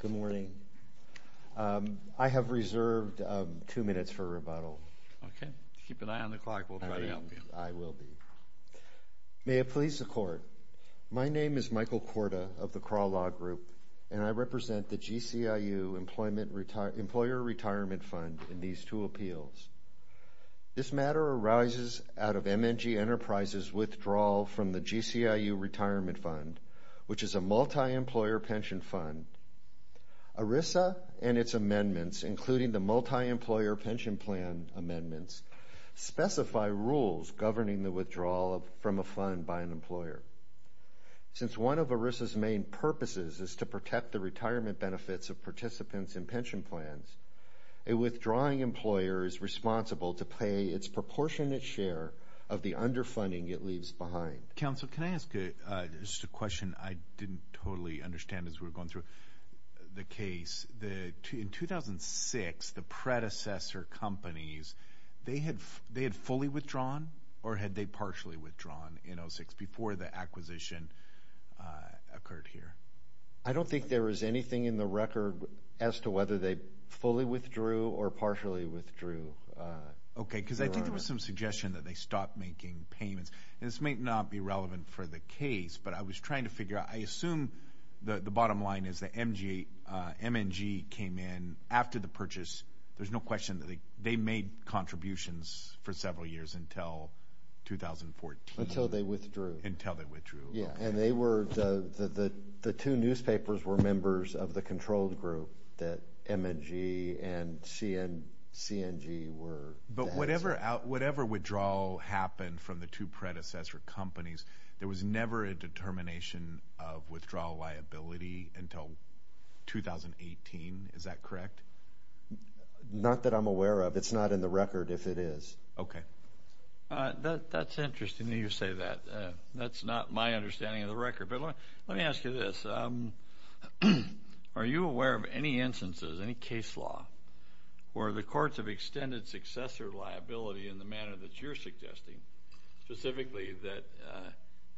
Good morning. I have reserved two minutes for rebuttal. Okay. Keep an eye on the clock. We'll try to help you. I will be. May it please the Court, my name is Michael Korda of the Crawl Law Group, and I represent the GCIU-Employer Retirement Fund in these two appeals. This matter arises out of MNG Enterprises' withdrawal from the GCIU Retirement Fund, which is a multi-employer pension fund. ERISA and its amendments, including the multi-employer pension plan amendments, specify rules governing the withdrawal from a fund by an employer. Since one of ERISA's main purposes is to protect the retirement benefits of participants in pension plans, a withdrawing employer is responsible to pay its proportionate share of the underfunding it leaves behind. Counsel, can I ask just a question I didn't totally understand as we were going through the case? In 2006, the predecessor companies, they had fully withdrawn or had they partially withdrawn in 2006 before the acquisition occurred here? I don't think there is anything in the record as to whether they fully withdrew or partially withdrew. Okay, because I think there was some suggestion that they stopped making payments. This may not be relevant for the case, but I was trying to figure out. I assume the bottom line is that MNG came in after the purchase. There's no question that they made contributions for several years until 2014. Until they withdrew. Until they withdrew. Yeah, and the two newspapers were members of the control group that MNG and CNG were. But whatever withdrawal happened from the two predecessor companies, there was never a determination of withdrawal liability until 2018. Is that correct? Not that I'm aware of. It's not in the record if it is. Okay. That's interesting that you say that. That's not my understanding of the record. But let me ask you this. Are you aware of any instances, any case law, where the courts have extended successor liability in the manner that you're suggesting, specifically that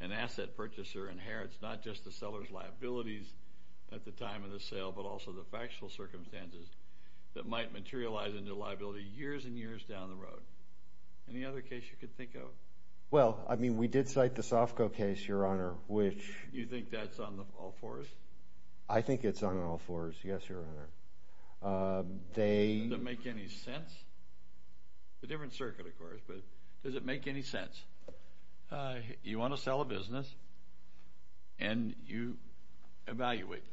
an asset purchaser inherits not just the seller's liabilities at the time of the sale but also the factual circumstances that might materialize into liability years and years down the road? Any other case you could think of? Well, I mean, we did cite the Sofco case, Your Honor, which… You think that's on all fours? I think it's on all fours, yes, Your Honor. Does it make any sense? It's a different circuit, of course, but does it make any sense? You want to sell a business and you evaluate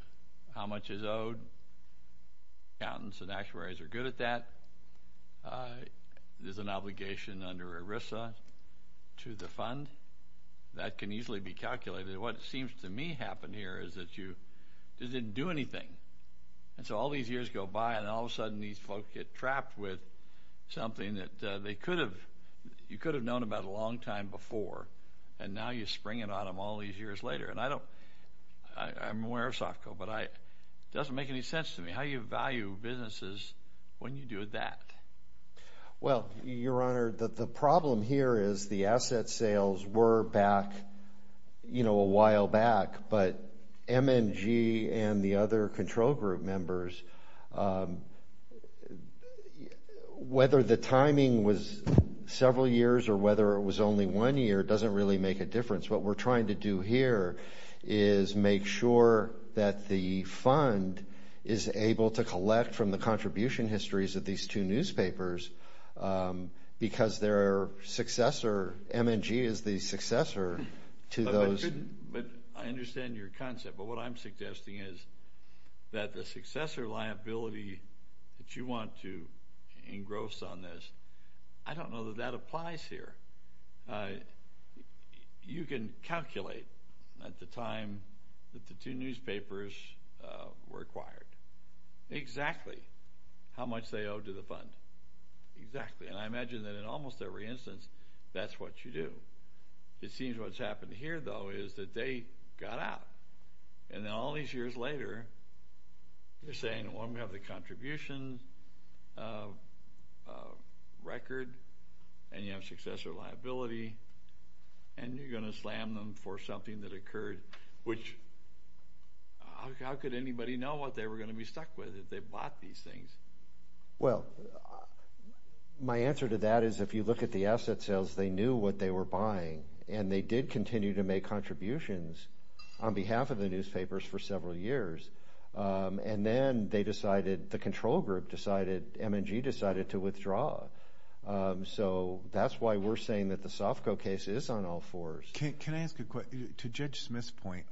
how much is owed. Accountants and actuaries are good at that. There's an obligation under ERISA to the fund. That can easily be calculated. What seems to me happened here is that you didn't do anything. And so all these years go by and all of a sudden these folks get trapped with something that they could have – you could have known about a long time before and now you're springing on them all these years later. And I don't – I'm aware of Sofco, but it doesn't make any sense to me how you Well, Your Honor, the problem here is the asset sales were back a while back, but MNG and the other control group members, whether the timing was several years or whether it was only one year, it doesn't really make a difference. What we're trying to do here is make sure that the fund is able to collect from the because their successor, MNG, is the successor to those But I understand your concept, but what I'm suggesting is that the successor liability that you want to engross on this, I don't know that that applies here. You can calculate at the time that the two newspapers were acquired exactly how much they owed to the fund. Exactly. And I imagine that in almost every instance that's what you do. It seems what's happened here, though, is that they got out. And then all these years later you're saying, well, we have the contribution record and you have successor liability and you're going to slam them for something that occurred, how could anybody know what they were going to be stuck with if they bought these things? Well, my answer to that is if you look at the asset sales, they knew what they were buying and they did continue to make contributions on behalf of the newspapers for several years. And then they decided, the control group decided, MNG decided to withdraw. So that's why we're saying that the Sofco case is on all fours. Can I ask a question? To Judge Smith's point,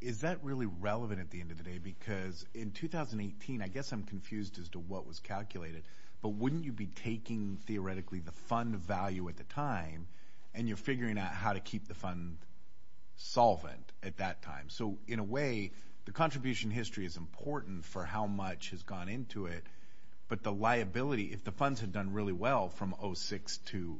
is that really relevant at the end of the day? Because in 2018, I guess I'm confused as to what was calculated, but wouldn't you be taking theoretically the fund value at the time and you're figuring out how to keep the fund solvent at that time? So in a way, the contribution history is important for how much has gone into it, but the liability, if the funds had done really well from 2006 to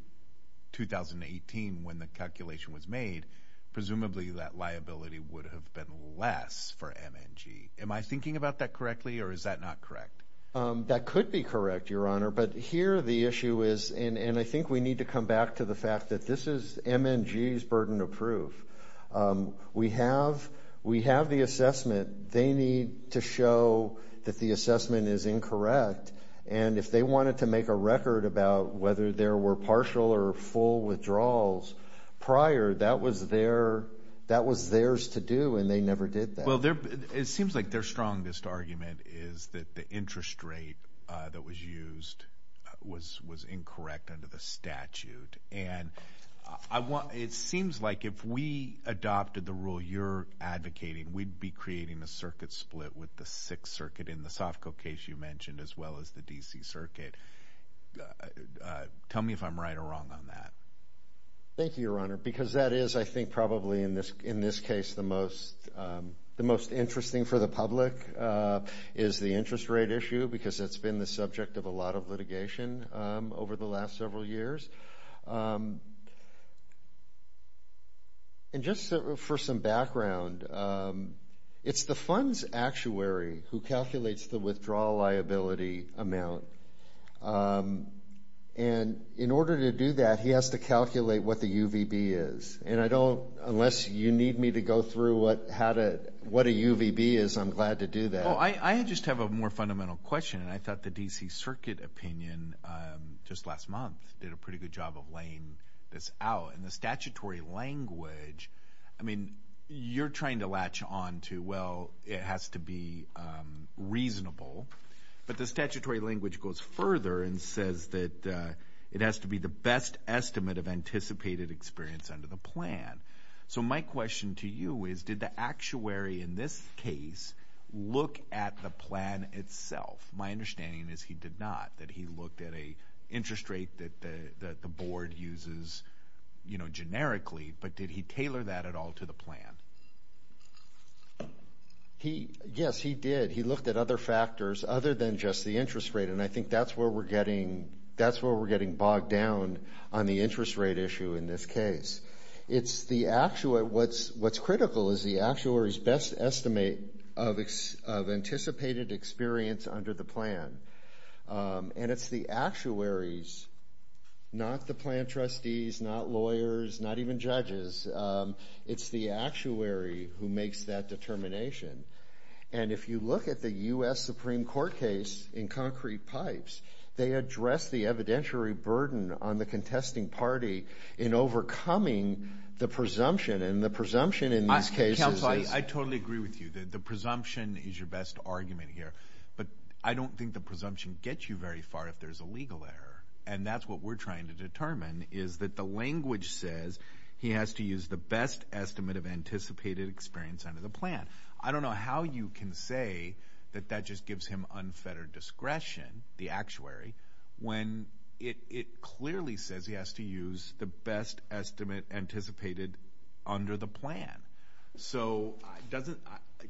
2018 when the calculation was made, presumably that liability would have been less for MNG. Am I thinking about that correctly or is that not correct? That could be correct, Your Honor, but here the issue is, and I think we need to come back to the fact that this is MNG's burden of proof. We have the assessment. They need to show that the assessment is incorrect, and if they wanted to make a record about whether there were partial or full withdrawals prior, that was theirs to do and they never did that. Well, it seems like their strongest argument is that the interest rate that was used was incorrect under the statute. And it seems like if we adopted the rule you're advocating, we'd be creating a circuit split with the Sixth Circuit in the Sofco case you mentioned as well as the D.C. Circuit. Tell me if I'm right or wrong on that. Thank you, Your Honor, because that is, I think, probably in this case, the most interesting for the public is the interest rate issue because it's been the subject of a lot of litigation over the last several years. And just for some background, it's the funds actuary who calculates the withdrawal liability amount. And in order to do that, he has to calculate what the UVB is. And I don't, unless you need me to go through what a UVB is, I'm glad to do that. Well, I just have a more fundamental question. And I thought the D.C. Circuit opinion just last month did a pretty good job of laying this out. And the statutory language, I mean, you're trying to latch on to, well, it has to be reasonable. But the statutory language goes further and says that it has to be the best estimate of anticipated experience under the plan. So my question to you is, did the actuary in this case look at the plan itself? My understanding is he did not, that he looked at an interest rate that the board uses, you know, generically. But did he tailor that at all to the plan? Yes, he did. He looked at other factors other than just the interest rate. And I think that's where we're getting bogged down on the interest rate issue in this case. What's critical is the actuary's best estimate of anticipated experience under the plan. And it's the actuaries, not the plan trustees, not lawyers, not even judges, it's the actuary who makes that determination. And if you look at the U.S. Supreme Court case in Concrete Pipes, they address the evidentiary burden on the contesting party in overcoming the presumption. And the presumption in this case is – Counsel, I totally agree with you. The presumption is your best argument here. But I don't think the presumption gets you very far if there's a legal error. And that's what we're trying to determine is that the language says he has to use the best estimate of anticipated experience under the plan. I don't know how you can say that that just gives him unfettered discretion. The actuary, when it clearly says he has to use the best estimate anticipated under the plan. So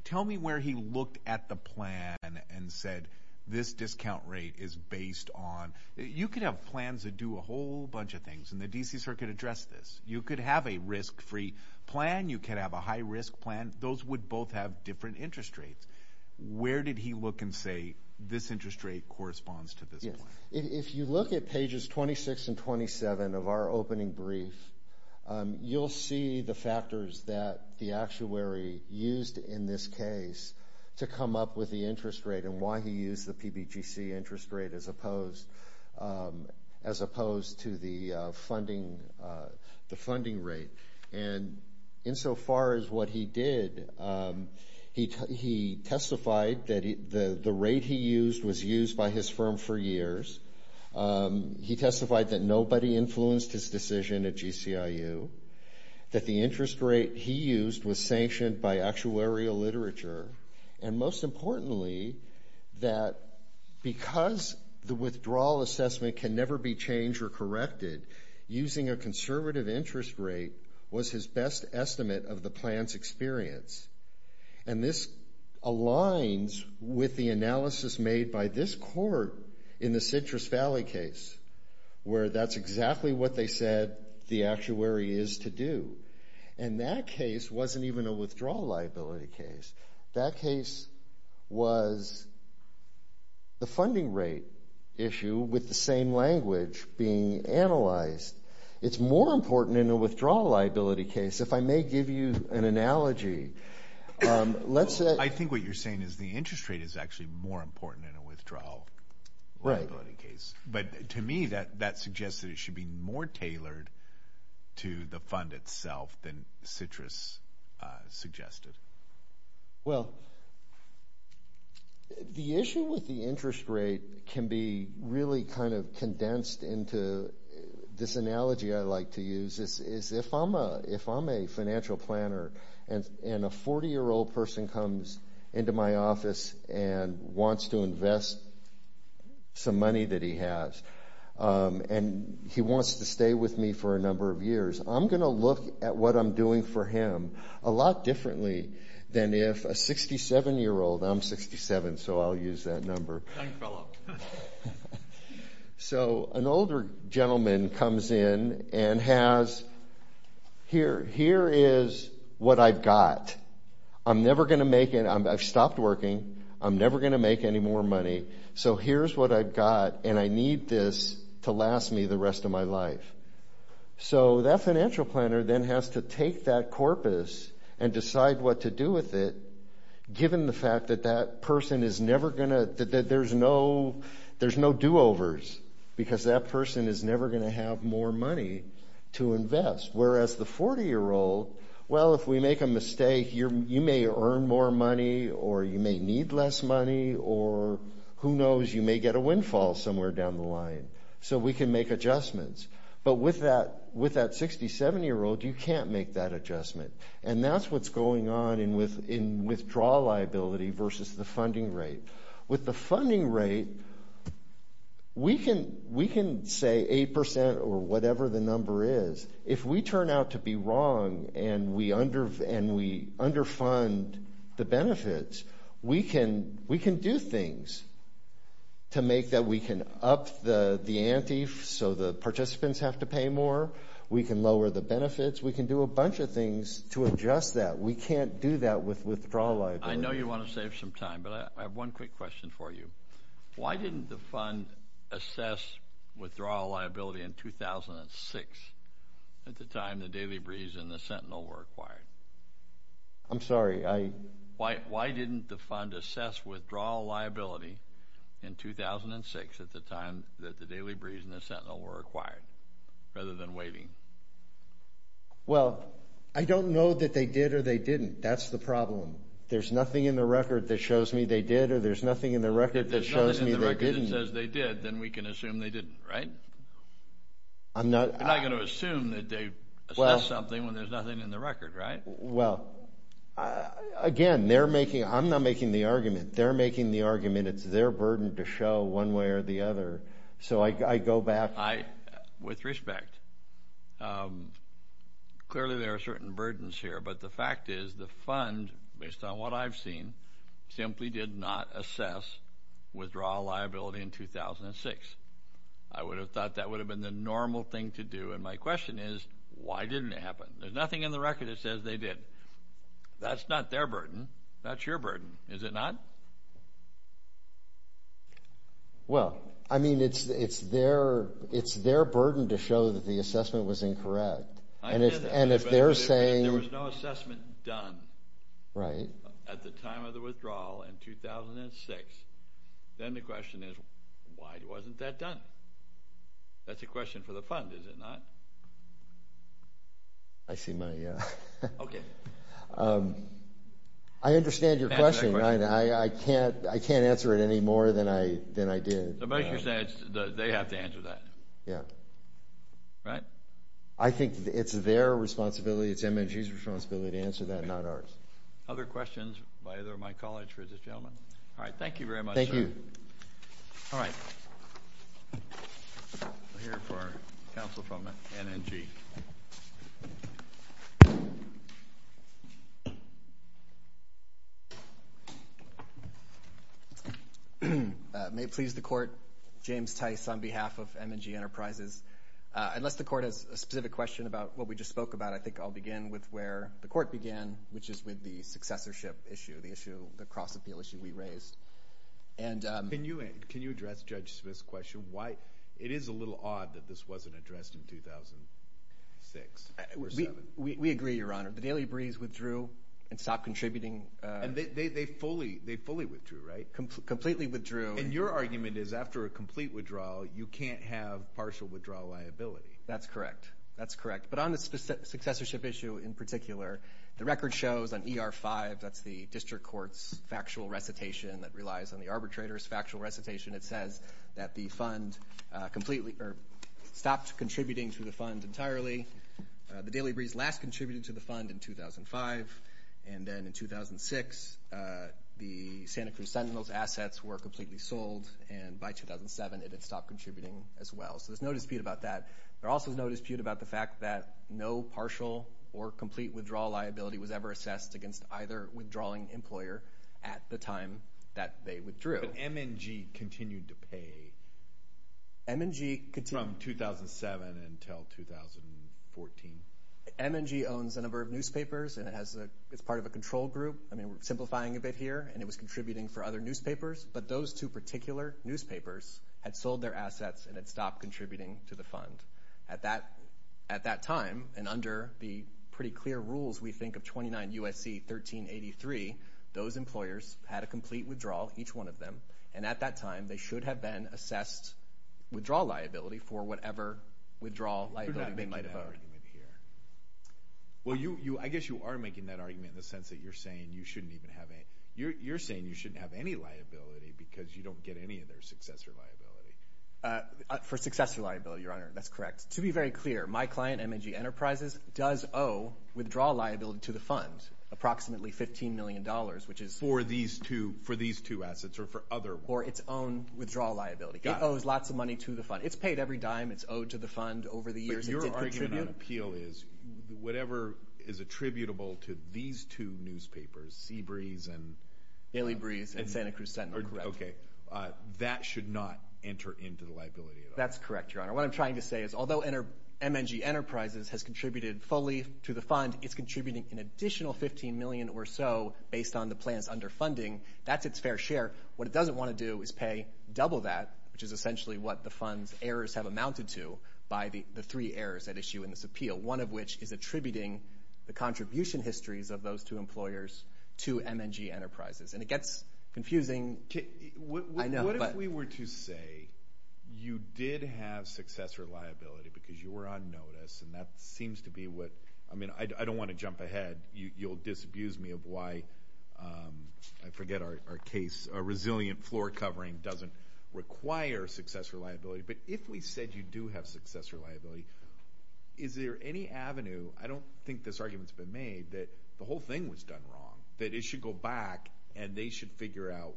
tell me where he looked at the plan and said this discount rate is based on – you could have plans that do a whole bunch of things, and the D.C. Circuit addressed this. You could have a risk-free plan. You could have a high-risk plan. Those would both have different interest rates. Where did he look and say this interest rate corresponds to this plan? If you look at pages 26 and 27 of our opening brief, you'll see the factors that the actuary used in this case to come up with the interest rate and why he used the PBGC interest rate as opposed to the funding rate. And insofar as what he did, he testified that the rate he used was used by his firm for years. He testified that nobody influenced his decision at GCIU, that the interest rate he used was sanctioned by actuarial literature, and most importantly, that because the withdrawal assessment can never be changed or corrected, using a conservative interest rate was his best estimate of the plan's experience. And this aligns with the analysis made by this court in the Citrus Valley case, where that's exactly what they said the actuary is to do. And that case wasn't even a withdrawal liability case. That case was the funding rate issue with the same language being analyzed. It's more important in a withdrawal liability case, if I may give you an analogy. I think what you're saying is the interest rate is actually more important in a withdrawal liability case. But to me, that suggests that it should be more tailored to the fund itself than Citrus suggested. Well, the issue with the interest rate can be really kind of condensed into this analogy I like to use, is if I'm a financial planner and a 40-year-old person comes into my office and wants to invest some money that he has, and he wants to stay with me for a number of years, I'm going to look at what I'm doing for him a lot differently than if a 67-year-old, I'm 67 so I'll use that number, so an older gentleman comes in and has, here is what I've got. I'm never going to make it, I've stopped working, I'm never going to make any more money, so here's what I've got and I need this to last me the rest of my life. So that financial planner then has to take that corpus and decide what to do with it, given the fact that that person is never going to, that there's no do-overs, because that person is never going to have more money to invest. Whereas the 40-year-old, well, if we make a mistake, you may earn more money or you may need less money or who knows, you may get a windfall somewhere down the line, so we can make adjustments. But with that 67-year-old, you can't make that adjustment, and that's what's going on in withdrawal liability versus the funding rate. With the funding rate, we can say 8% or whatever the number is. If we turn out to be wrong and we underfund the benefits, we can do things to make that we can up the ante so the participants have to pay more. We can lower the benefits. We can do a bunch of things to adjust that. We can't do that with withdrawal liability. I know you want to save some time, but I have one quick question for you. Why didn't the fund assess withdrawal liability in 2006, at the time the Daily Breeze and the Sentinel were acquired? I'm sorry. Why didn't the fund assess withdrawal liability in 2006, at the time that the Daily Breeze and the Sentinel were acquired, rather than waiting? Well, I don't know that they did or they didn't. That's the problem. There's nothing in the record that shows me they did or there's nothing in the record that shows me they didn't. If there's nothing in the record that says they did, then we can assume they didn't, right? You're not going to assume that they assessed something when there's nothing in the record, right? Well, again, I'm not making the argument. They're making the argument. It's their burden to show one way or the other. So I go back. With respect, clearly there are certain burdens here, but the fact is the fund, based on what I've seen, simply did not assess withdrawal liability in 2006. I would have thought that would have been the normal thing to do. And my question is, why didn't it happen? There's nothing in the record that says they did. That's not their burden. That's your burden, is it not? Well, I mean, it's their burden to show that the assessment was incorrect. I get that, but if there was no assessment done at the time of the withdrawal in 2006, then the question is, why wasn't that done? That's a question for the fund, is it not? I see my… Okay. I understand your question. I can't answer it any more than I did. They have to answer that, right? I think it's their responsibility, it's M&G's responsibility to answer that, not ours. Other questions by either of my colleagues, ladies and gentlemen? All right. Thank you very much, sir. Thank you. All right. We're here for counsel from M&G. May it please the Court, James Tice on behalf of M&G Enterprises. Unless the Court has a specific question about what we just spoke about, I think I'll begin with where the Court began, which is with the successorship issue, the cross-appeal issue we raised. Can you address Judge Smith's question? It is a little odd that this wasn't addressed in 2006 or 2007. We agree, Your Honor. The Daily Breeze withdrew and stopped contributing. And they fully withdrew, right? Completely withdrew. And your argument is after a complete withdrawal, you can't have partial withdrawal liability. That's correct. That's correct. But on the successorship issue in particular, the record shows on ER-5, that's the district court's factual recitation that relies on the arbitrator's factual recitation, it says that the fund completely stopped contributing to the fund entirely. The Daily Breeze last contributed to the fund in 2005, and then in 2006 the Santa Cruz Sentinels assets were completely sold, and by 2007 it had stopped contributing as well. So there's no dispute about that. There also is no dispute about the fact that no partial or complete withdrawal liability was ever assessed against either withdrawing employer at the time that they withdrew. But M&G continued to pay from 2007 until 2014. M&G owns a number of newspapers, and it's part of a control group. I mean, we're simplifying a bit here, and it was contributing for other newspapers, but those two particular newspapers had sold their assets and had stopped contributing to the fund. At that time, and under the pretty clear rules we think of 29 U.S.C. 1383, those employers had a complete withdrawal, each one of them, and at that time they should have been assessed withdrawal liability for whatever withdrawal liability they might have owed. You're not making that argument here. Well, I guess you are making that argument in the sense that you're saying you shouldn't even have any. You're saying you shouldn't have any liability because you don't get any of their successor liability. For successor liability, Your Honor, that's correct. To be very clear, my client, M&G Enterprises, does owe withdrawal liability to the fund, approximately $15 million, which is for these two assets or for other ones. For its own withdrawal liability. It owes lots of money to the fund. It's paid every dime. It's owed to the fund over the years it did contribute. But your argument on appeal is whatever is attributable to these two newspapers, Sea Breeze and— Hailey Breeze and Santa Cruz Sentinel, correct. Okay. That should not enter into the liability at all. That's correct, Your Honor. What I'm trying to say is although M&G Enterprises has contributed fully to the fund, it's contributing an additional $15 million or so based on the plans under funding. That's its fair share. What it doesn't want to do is pay double that, which is essentially what the fund's errors have amounted to, by the three errors at issue in this appeal, one of which is attributing the contribution histories of those two employers to M&G Enterprises. And it gets confusing. I know, but— What if we were to say you did have successor liability because you were on notice, and that seems to be what—I mean, I don't want to jump ahead. You'll disabuse me of why—I forget our case. A resilient floor covering doesn't require successor liability. But if we said you do have successor liability, is there any avenue— I don't think this argument's been made that the whole thing was done wrong, that it should go back and they should figure out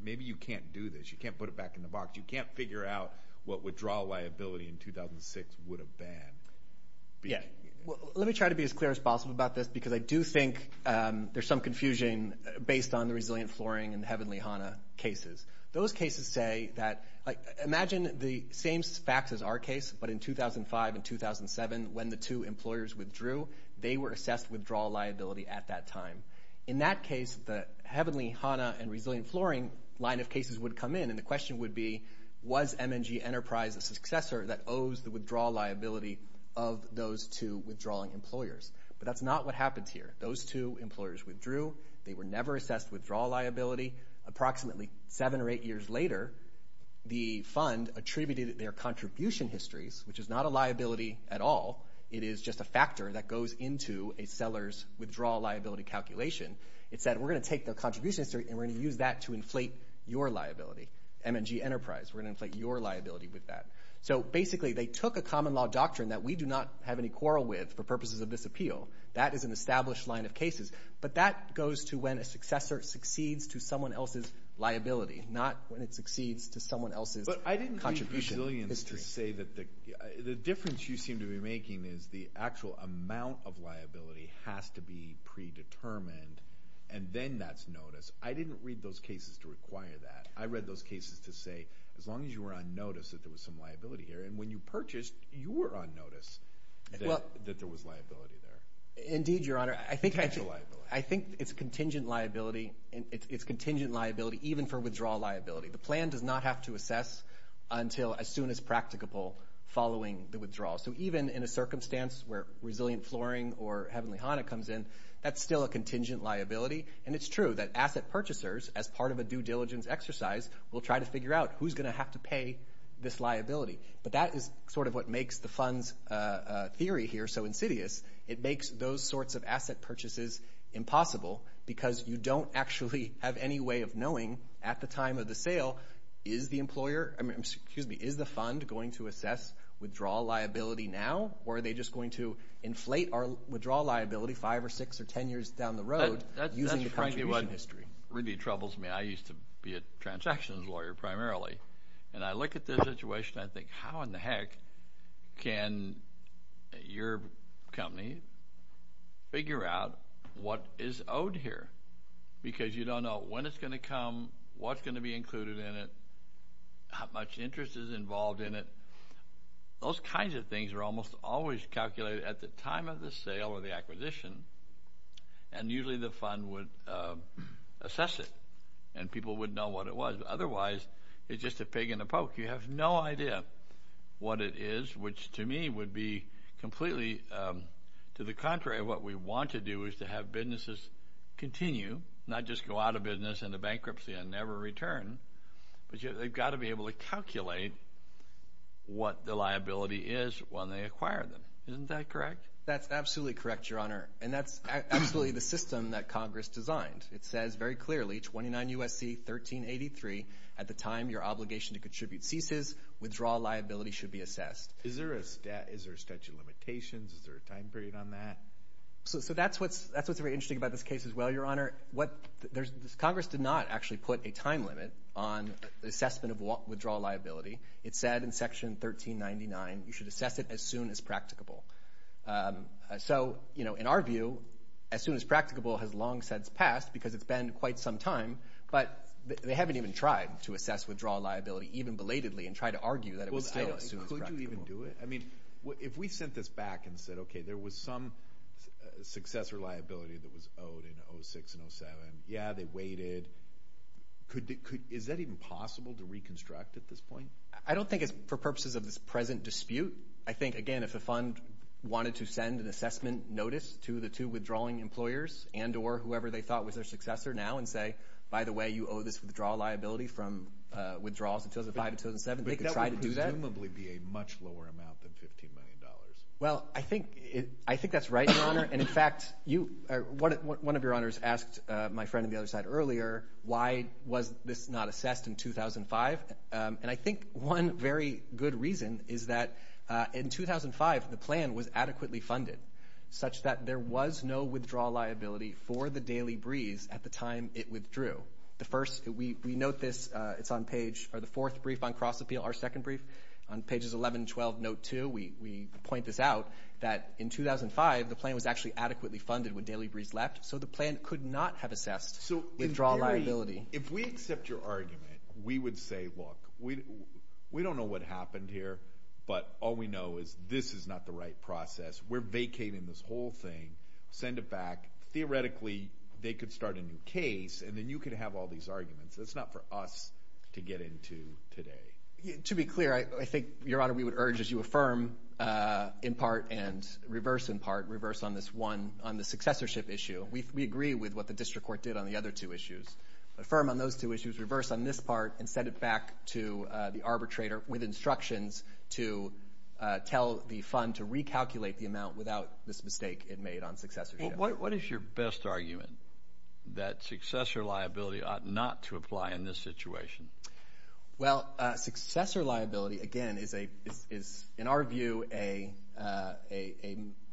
maybe you can't do this. You can't put it back in the box. You can't figure out what withdrawal liability in 2006 would have been. Let me try to be as clear as possible about this, because I do think there's some confusion based on the resilient flooring and heavenly HANA cases. Those cases say that—imagine the same facts as our case, but in 2005 and 2007, when the two employers withdrew, they were assessed withdrawal liability at that time. In that case, the heavenly HANA and resilient flooring line of cases would come in, and the question would be, was M&G Enterprise a successor that owes the withdrawal liability of those two withdrawing employers? But that's not what happens here. Those two employers withdrew. They were never assessed withdrawal liability. Approximately seven or eight years later, the fund attributed their contribution histories, which is not a liability at all. It is just a factor that goes into a seller's withdrawal liability calculation. It said, we're going to take the contribution history, and we're going to use that to inflate your liability, M&G Enterprise. We're going to inflate your liability with that. So basically, they took a common law doctrine that we do not have any quarrel with for purposes of this appeal. That is an established line of cases. But that goes to when a successor succeeds to someone else's liability, not when it succeeds to someone else's contribution history. But I didn't read the resilience to say that the difference you seem to be making is the actual amount of liability has to be predetermined, and then that's notice. I didn't read those cases to require that. I read those cases to say, as long as you were on notice that there was some liability here. And when you purchased, you were on notice that there was liability there. Indeed, Your Honor. Potential liability. I think it's contingent liability, and it's contingent liability even for withdrawal liability. The plan does not have to assess until as soon as practicable following the withdrawal. So even in a circumstance where resilient flooring or Heavenly Hana comes in, that's still a contingent liability. And it's true that asset purchasers, as part of a due diligence exercise, will try to figure out who's going to have to pay this liability. But that is sort of what makes the fund's theory here so insidious. It makes those sorts of asset purchases impossible because you don't actually have any way of knowing at the time of the sale, is the fund going to assess withdrawal liability now, or are they just going to inflate our withdrawal liability five or six or ten years down the road using the contribution history? That really troubles me. I used to be a transactions lawyer primarily, and I look at this situation and I think, how in the heck can your company figure out what is owed here? Because you don't know when it's going to come, what's going to be included in it, how much interest is involved in it. Those kinds of things are almost always calculated at the time of the sale or the acquisition, and usually the fund would assess it and people would know what it was. Otherwise, it's just a pig in a poke. You have no idea what it is, which to me would be completely to the contrary. What we want to do is to have businesses continue, not just go out of business into bankruptcy and never return, but they've got to be able to calculate what the liability is when they acquire them. Isn't that correct? That's absolutely correct, Your Honor, and that's absolutely the system that Congress designed. It says very clearly, 29 U.S.C. 1383, at the time your obligation to contribute ceases, withdrawal liability should be assessed. Is there a statute of limitations? Is there a time period on that? That's what's very interesting about this case as well, Your Honor. Congress did not actually put a time limit on the assessment of withdrawal liability. It said in Section 1399, you should assess it as soon as practicable. In our view, as soon as practicable has long since passed because it's been quite some time, but they haven't even tried to assess withdrawal liability, even belatedly, and tried to argue that it was still as soon as practicable. Could you even do it? I mean, if we sent this back and said, okay, there was some successor liability that was owed in 06 and 07, yeah, they waited, is that even possible to reconstruct at this point? I don't think it's for purposes of this present dispute. I think, again, if a fund wanted to send an assessment notice to the two withdrawing employers and or whoever they thought was their successor now and say, by the way, you owe this withdrawal liability from withdrawals in 2005 and 2007, they could try to do that. But that would presumably be a much lower amount than $15 million. Well, I think that's right, Your Honor. And, in fact, one of your honors asked my friend on the other side earlier, why was this not assessed in 2005? And I think one very good reason is that in 2005, the plan was adequately funded, such that there was no withdrawal liability for the Daily Breeze at the time it withdrew. We note this. It's on the fourth brief on cross-appeal, our second brief, on pages 11 and 12, note 2. We point this out that in 2005, the plan was actually adequately funded when Daily Breeze left, so the plan could not have assessed withdrawal liability. So if we accept your argument, we would say, look, we don't know what happened here, but all we know is this is not the right process. We're vacating this whole thing. Send it back. Theoretically, they could start a new case, and then you could have all these arguments. That's not for us to get into today. To be clear, I think, Your Honor, we would urge, as you affirm in part and reverse in part, reverse on this one on the successorship issue. We agree with what the district court did on the other two issues. Affirm on those two issues, reverse on this part, and send it back to the arbitrator with instructions to tell the fund to recalculate the amount without this mistake it made on successorship. What is your best argument that successor liability ought not to apply in this situation? Well, successor liability, again, is, in our view, a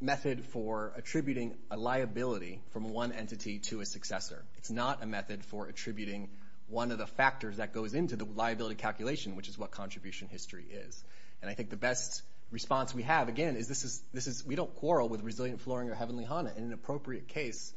method for attributing a liability from one entity to a successor. It's not a method for attributing one of the factors that goes into the liability calculation, which is what contribution history is. And I think the best response we have, again, is this is we don't quarrel with resilient flooring or heavenly Hana in an appropriate case.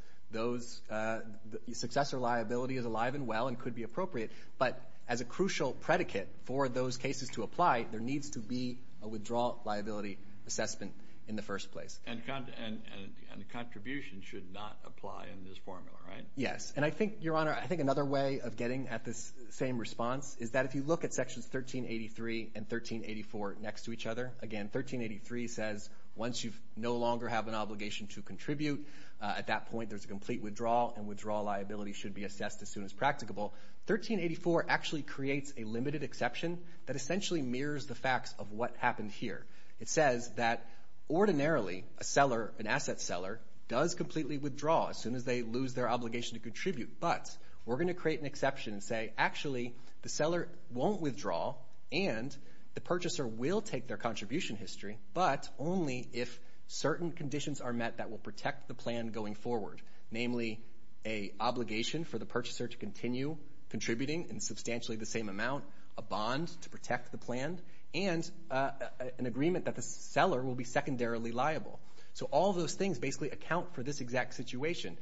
Successor liability is alive and well and could be appropriate, but as a crucial predicate for those cases to apply, there needs to be a withdrawal liability assessment in the first place. And the contribution should not apply in this formula, right? Yes, and I think, Your Honor, I think another way of getting at this same response is that if you look at Sections 1383 and 1384 next to each other, again, 1383 says once you no longer have an obligation to contribute, at that point there's a complete withdrawal, and withdrawal liability should be assessed as soon as practicable. 1384 actually creates a limited exception that essentially mirrors the facts of what happened here. It says that ordinarily, a seller, an asset seller, does completely withdraw as soon as they lose their obligation to contribute, but we're going to create an exception and say, actually, the seller won't withdraw and the purchaser will take their contribution history, but only if certain conditions are met that will protect the plan going forward, namely an obligation for the purchaser to continue contributing in substantially the same amount, a bond to protect the plan, and an agreement that the seller will be secondarily liable. So all those things basically account for this exact situation.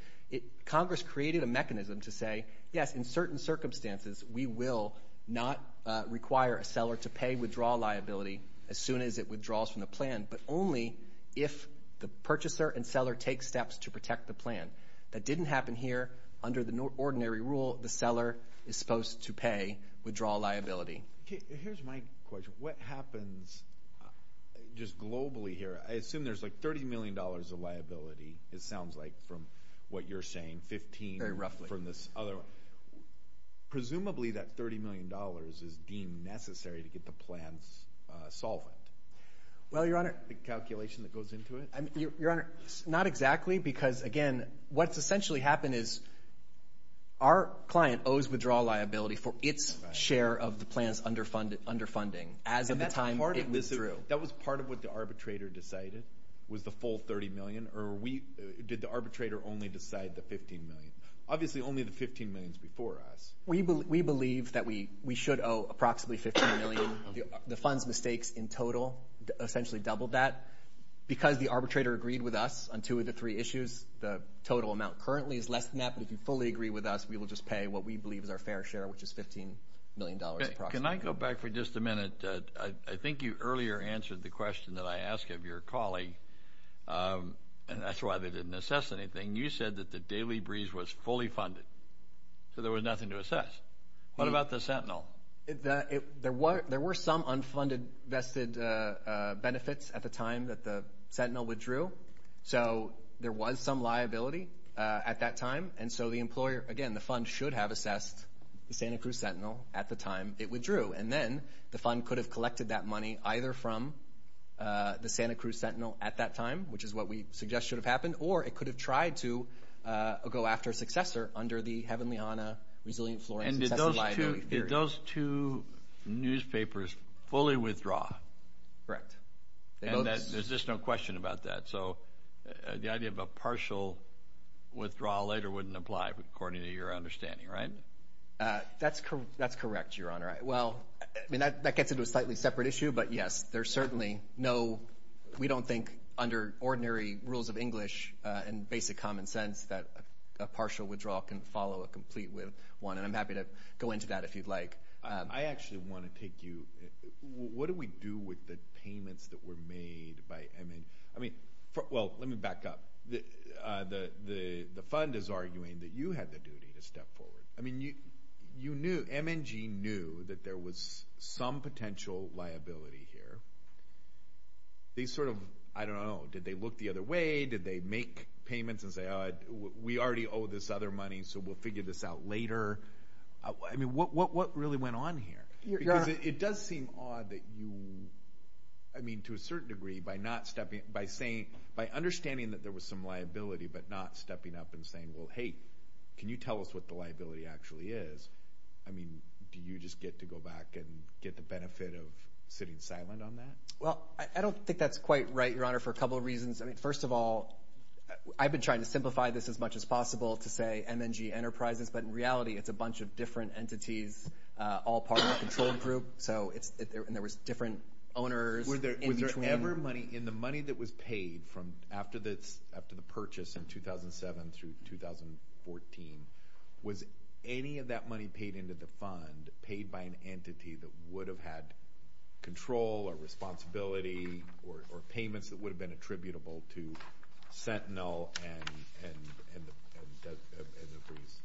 Congress created a mechanism to say, yes, in certain circumstances, we will not require a seller to pay withdrawal liability as soon as it withdraws from the plan, but only if the purchaser and seller take steps to protect the plan. That didn't happen here. Under the ordinary rule, the seller is supposed to pay withdrawal liability. Here's my question. What happens just globally here? I assume there's like $30 million of liability, it sounds like, from what you're saying, 15 from this other one. Presumably that $30 million is deemed necessary to get the plan's solvent. The calculation that goes into it? Your Honor, not exactly because, again, what's essentially happened is our client owes withdrawal liability for its share of the plan's underfunding as of the time it withdrew. That was part of what the arbitrator decided was the full $30 million, or did the arbitrator only decide the $15 million? Obviously only the $15 million is before us. We believe that we should owe approximately $15 million. The fund's mistakes in total essentially doubled that. Because the arbitrator agreed with us on two of the three issues, the total amount currently is less than that, but if you fully agree with us, we will just pay what we believe is our fair share, which is $15 million approximately. Can I go back for just a minute? I think you earlier answered the question that I asked of your colleague, and that's why they didn't assess anything. You said that the Daily Breeze was fully funded, so there was nothing to assess. What about the Sentinel? There were some unfunded vested benefits at the time that the Sentinel withdrew, so there was some liability at that time. And so the employer, again, the fund should have assessed the Santa Cruz Sentinel at the time it withdrew, and then the fund could have collected that money either from the Santa Cruz Sentinel at that time, which is what we suggest should have happened, or it could have tried to go after a successor under the Heavenly Ana Resilient Flooring Successive Liability Theory. And did those two newspapers fully withdraw? Correct. And there's just no question about that. So the idea of a partial withdrawal later wouldn't apply according to your understanding, right? That's correct, Your Honor. Well, I mean, that gets into a slightly separate issue, but, yes, there's certainly no – we don't think under ordinary rules of English and basic common sense that a partial withdrawal can follow a complete one, and I'm happy to go into that if you'd like. I actually want to take you – what do we do with the payments that were made by MNG? I mean, well, let me back up. The fund is arguing that you had the duty to step forward. I mean, you knew – MNG knew that there was some potential liability here. They sort of – I don't know. Did they look the other way? Did they make payments and say, oh, we already owe this other money, so we'll figure this out later? I mean, what really went on here? Because it does seem odd that you – I mean, to a certain degree, by not stepping – by saying – by understanding that there was some liability but not stepping up and saying, well, hey, can you tell us what the liability actually is? I mean, do you just get to go back and get the benefit of sitting silent on that? Well, I don't think that's quite right, Your Honor, for a couple of reasons. I mean, first of all, I've been trying to simplify this as much as possible to say MNG Enterprises, but in reality it's a bunch of different entities, all part of a control group, so it's – and there was different owners in between. In the money that was paid from after the purchase in 2007 through 2014, was any of that money paid into the fund paid by an entity that would have had control or responsibility or payments that would have been attributable to Sentinel and the police?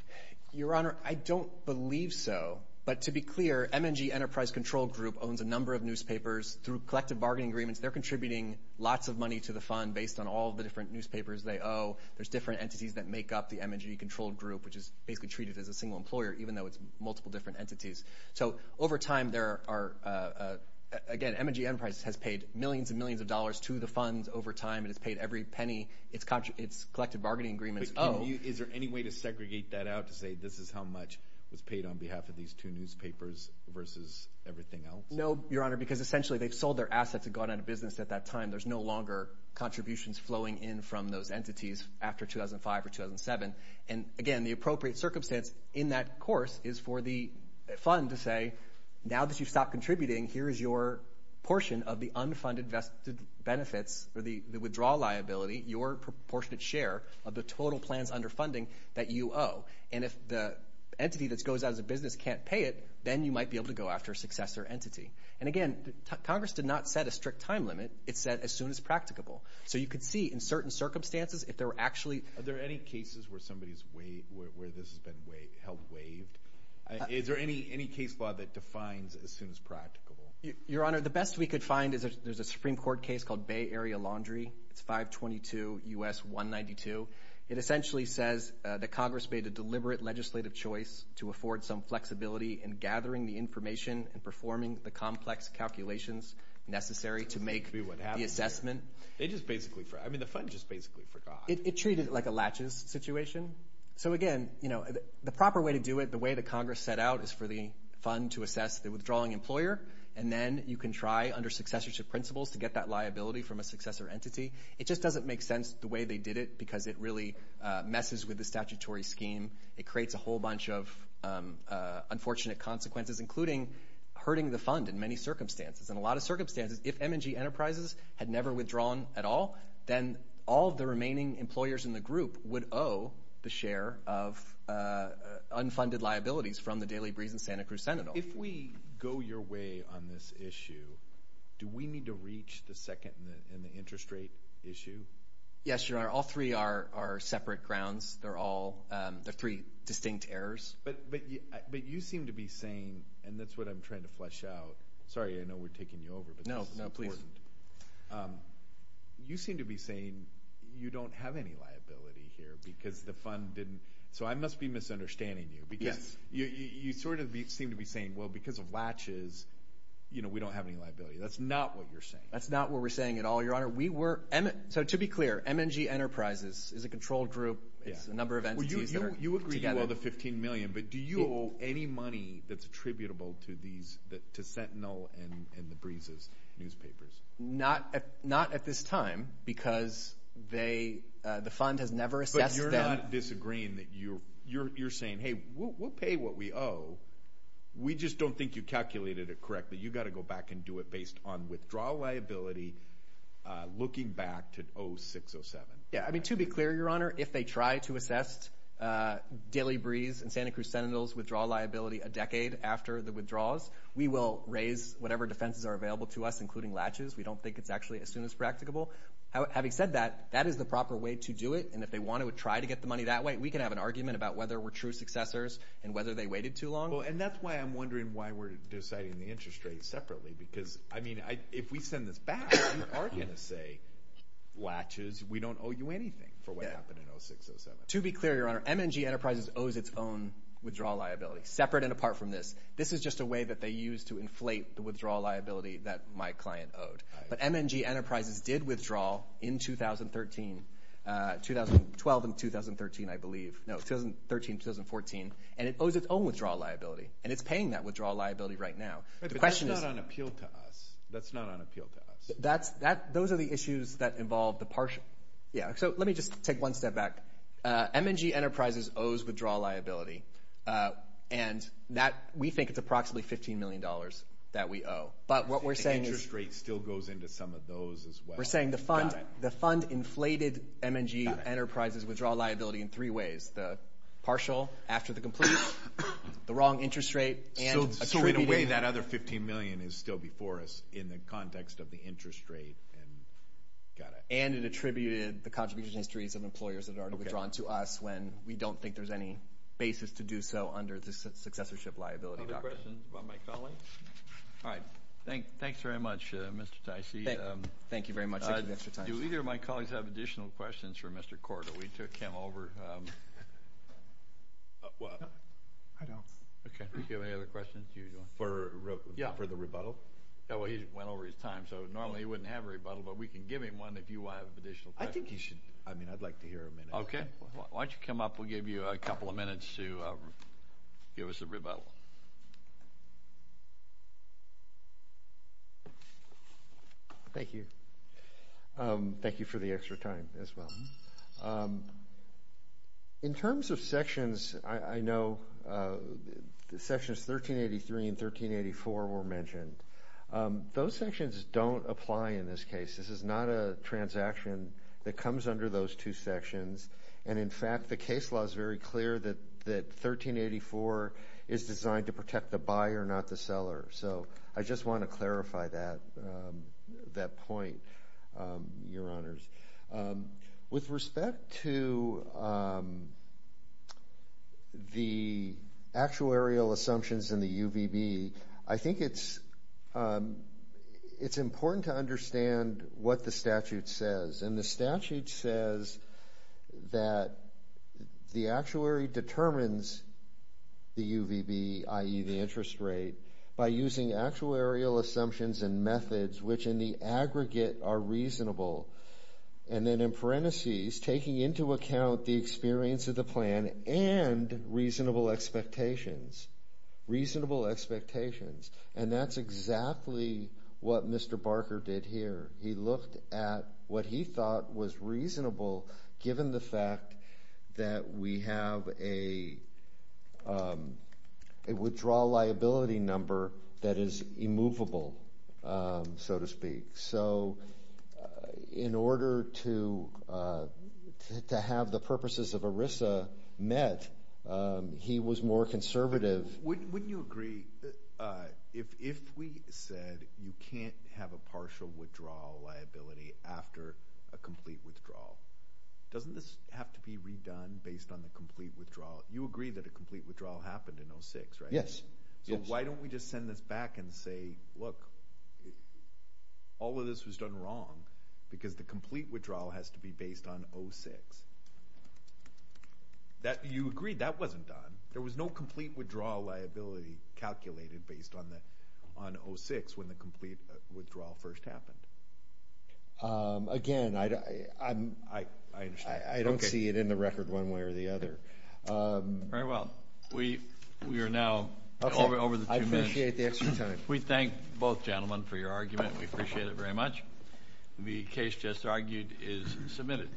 Your Honor, I don't believe so. But to be clear, MNG Enterprise Control Group owns a number of newspapers. Through collective bargaining agreements, they're contributing lots of money to the fund based on all the different newspapers they owe. There's different entities that make up the MNG Control Group, which is basically treated as a single employer even though it's multiple different entities. So over time there are – again, MNG Enterprise has paid millions and millions of dollars to the funds over time and has paid every penny its collective bargaining agreements owe. Is there any way to segregate that out to say this is how much was paid on behalf of these two newspapers versus everything else? No, Your Honor, because essentially they've sold their assets and gone out of business at that time. There's no longer contributions flowing in from those entities after 2005 or 2007. Again, the appropriate circumstance in that course is for the fund to say, now that you've stopped contributing, here is your portion of the unfunded benefits or the withdrawal liability, your proportionate share of the total plans under funding that you owe. And if the entity that goes out of business can't pay it, then you might be able to go after a successor entity. And again, Congress did not set a strict time limit. It said as soon as practicable. So you could see in certain circumstances if there were actually – Are there any cases where somebody's – where this has been held waived? Is there any case law that defines as soon as practicable? Your Honor, the best we could find is there's a Supreme Court case called Bay Area Laundry. It's 522 U.S. 192. It essentially says that Congress made a deliberate legislative choice to afford some flexibility in gathering the information and performing the complex calculations necessary to make the assessment. They just basically – I mean the fund just basically forgot. It treated it like a latches situation. So again, the proper way to do it, the way that Congress set out, is for the fund to assess the withdrawing employer, and then you can try under successorship principles to get that liability from a successor entity. It just doesn't make sense the way they did it because it really messes with the statutory scheme. It creates a whole bunch of unfortunate consequences, including hurting the fund in many circumstances. In a lot of circumstances, if M&G Enterprises had never withdrawn at all, then all of the remaining employers in the group would owe the share of unfunded liabilities from the Daily Breeze and Santa Cruz Sentinel. If we go your way on this issue, do we need to reach the second in the interest rate issue? Yes, Your Honor. All three are separate grounds. They're all – they're three distinct errors. But you seem to be saying – and that's what I'm trying to flesh out. Sorry, I know we're taking you over, but this is important. No, please. You seem to be saying you don't have any liability here because the fund didn't – so I must be misunderstanding you because you sort of seem to be saying, well, because of latches, we don't have any liability. That's not what you're saying. That's not what we're saying at all, Your Honor. To be clear, M&G Enterprises is a control group. It's a number of entities that are together. You agree you owe the $15 million, but do you owe any money that's attributable to Sentinel and the Breeze's newspapers? Not at this time because the fund has never assessed them. But you're not disagreeing. You're saying, hey, we'll pay what we owe. We just don't think you calculated it correctly. You've got to go back and do it based on withdrawal liability looking back to 06-07. To be clear, Your Honor, if they try to assess Daily Breeze and Santa Cruz Sentinel's withdrawal liability a decade after the withdrawals, we will raise whatever defenses are available to us, including latches. We don't think it's actually as soon as practicable. Having said that, that is the proper way to do it, and if they want to try to get the money that way, we can have an argument about whether we're true successors and whether they waited too long. And that's why I'm wondering why we're deciding the interest rates separately because, I mean, if we send this back, we are going to say, latches, we don't owe you anything for what happened in 06-07. To be clear, Your Honor, M&G Enterprises owes its own withdrawal liability, separate and apart from this. This is just a way that they use to inflate the withdrawal liability that my client owed. But M&G Enterprises did withdraw in 2012 and 2013, I believe. No, 2013-2014, and it owes its own withdrawal liability, and it's paying that withdrawal liability right now. But that's not on appeal to us. That's not on appeal to us. Those are the issues that involve the partial. So let me just take one step back. M&G Enterprises owes withdrawal liability, and we think it's approximately $15 million that we owe. But what we're saying is— The interest rate still goes into some of those as well. We're saying the fund inflated M&G Enterprises withdrawal liability in three ways, the partial after the complete, the wrong interest rate, and— So in a way, that other $15 million is still before us in the context of the interest rate. And it attributed the contribution histories of employers that are withdrawn to us when we don't think there's any basis to do so under the successorship liability doctrine. Other questions from my colleagues? All right. Thanks very much, Mr. Ticey. Thank you very much. Thank you, Mr. Ticey. Do either of my colleagues have additional questions for Mr. Cordo? We took him over. I don't. Okay. Do you have any other questions? For the rebuttal? Yeah. Well, he went over his time, so normally he wouldn't have a rebuttal, but we can give him one if you have additional questions. I think he should. I mean, I'd like to hear a minute. Okay. Why don't you come up? We'll give you a couple of minutes to give us a rebuttal. Thank you. Thank you for the extra time as well. In terms of sections, I know sections 1383 and 1384 were mentioned. Those sections don't apply in this case. This is not a transaction that comes under those two sections, and, in fact, the case law is very clear that 1384 is designed to protect the buyer, not the seller. So I just want to clarify that point, Your Honors. With respect to the actuarial assumptions in the UVB, I think it's important to understand what the statute says. And the statute says that the actuary determines the UVB, i.e., the interest rate, by using actuarial assumptions and methods, which in the aggregate are reasonable. And then in parentheses, taking into account the experience of the plan and reasonable expectations. Reasonable expectations. And that's exactly what Mr. Barker did here. He looked at what he thought was reasonable, given the fact that we have a withdrawal liability number that is immovable, so to speak. So in order to have the purposes of ERISA met, he was more conservative. Wouldn't you agree, if we said you can't have a partial withdrawal liability after a complete withdrawal, doesn't this have to be redone based on the complete withdrawal? You agree that a complete withdrawal happened in 06, right? Yes. So why don't we just send this back and say, look, all of this was done wrong because the complete withdrawal has to be based on 06. You agree that wasn't done. There was no complete withdrawal liability calculated based on 06 when the complete withdrawal first happened. Again, I don't see it in the record one way or the other. Very well. We are now over the two minutes. I appreciate the extra time. We thank both gentlemen for your argument. We appreciate it very much. The case just argued is submitted.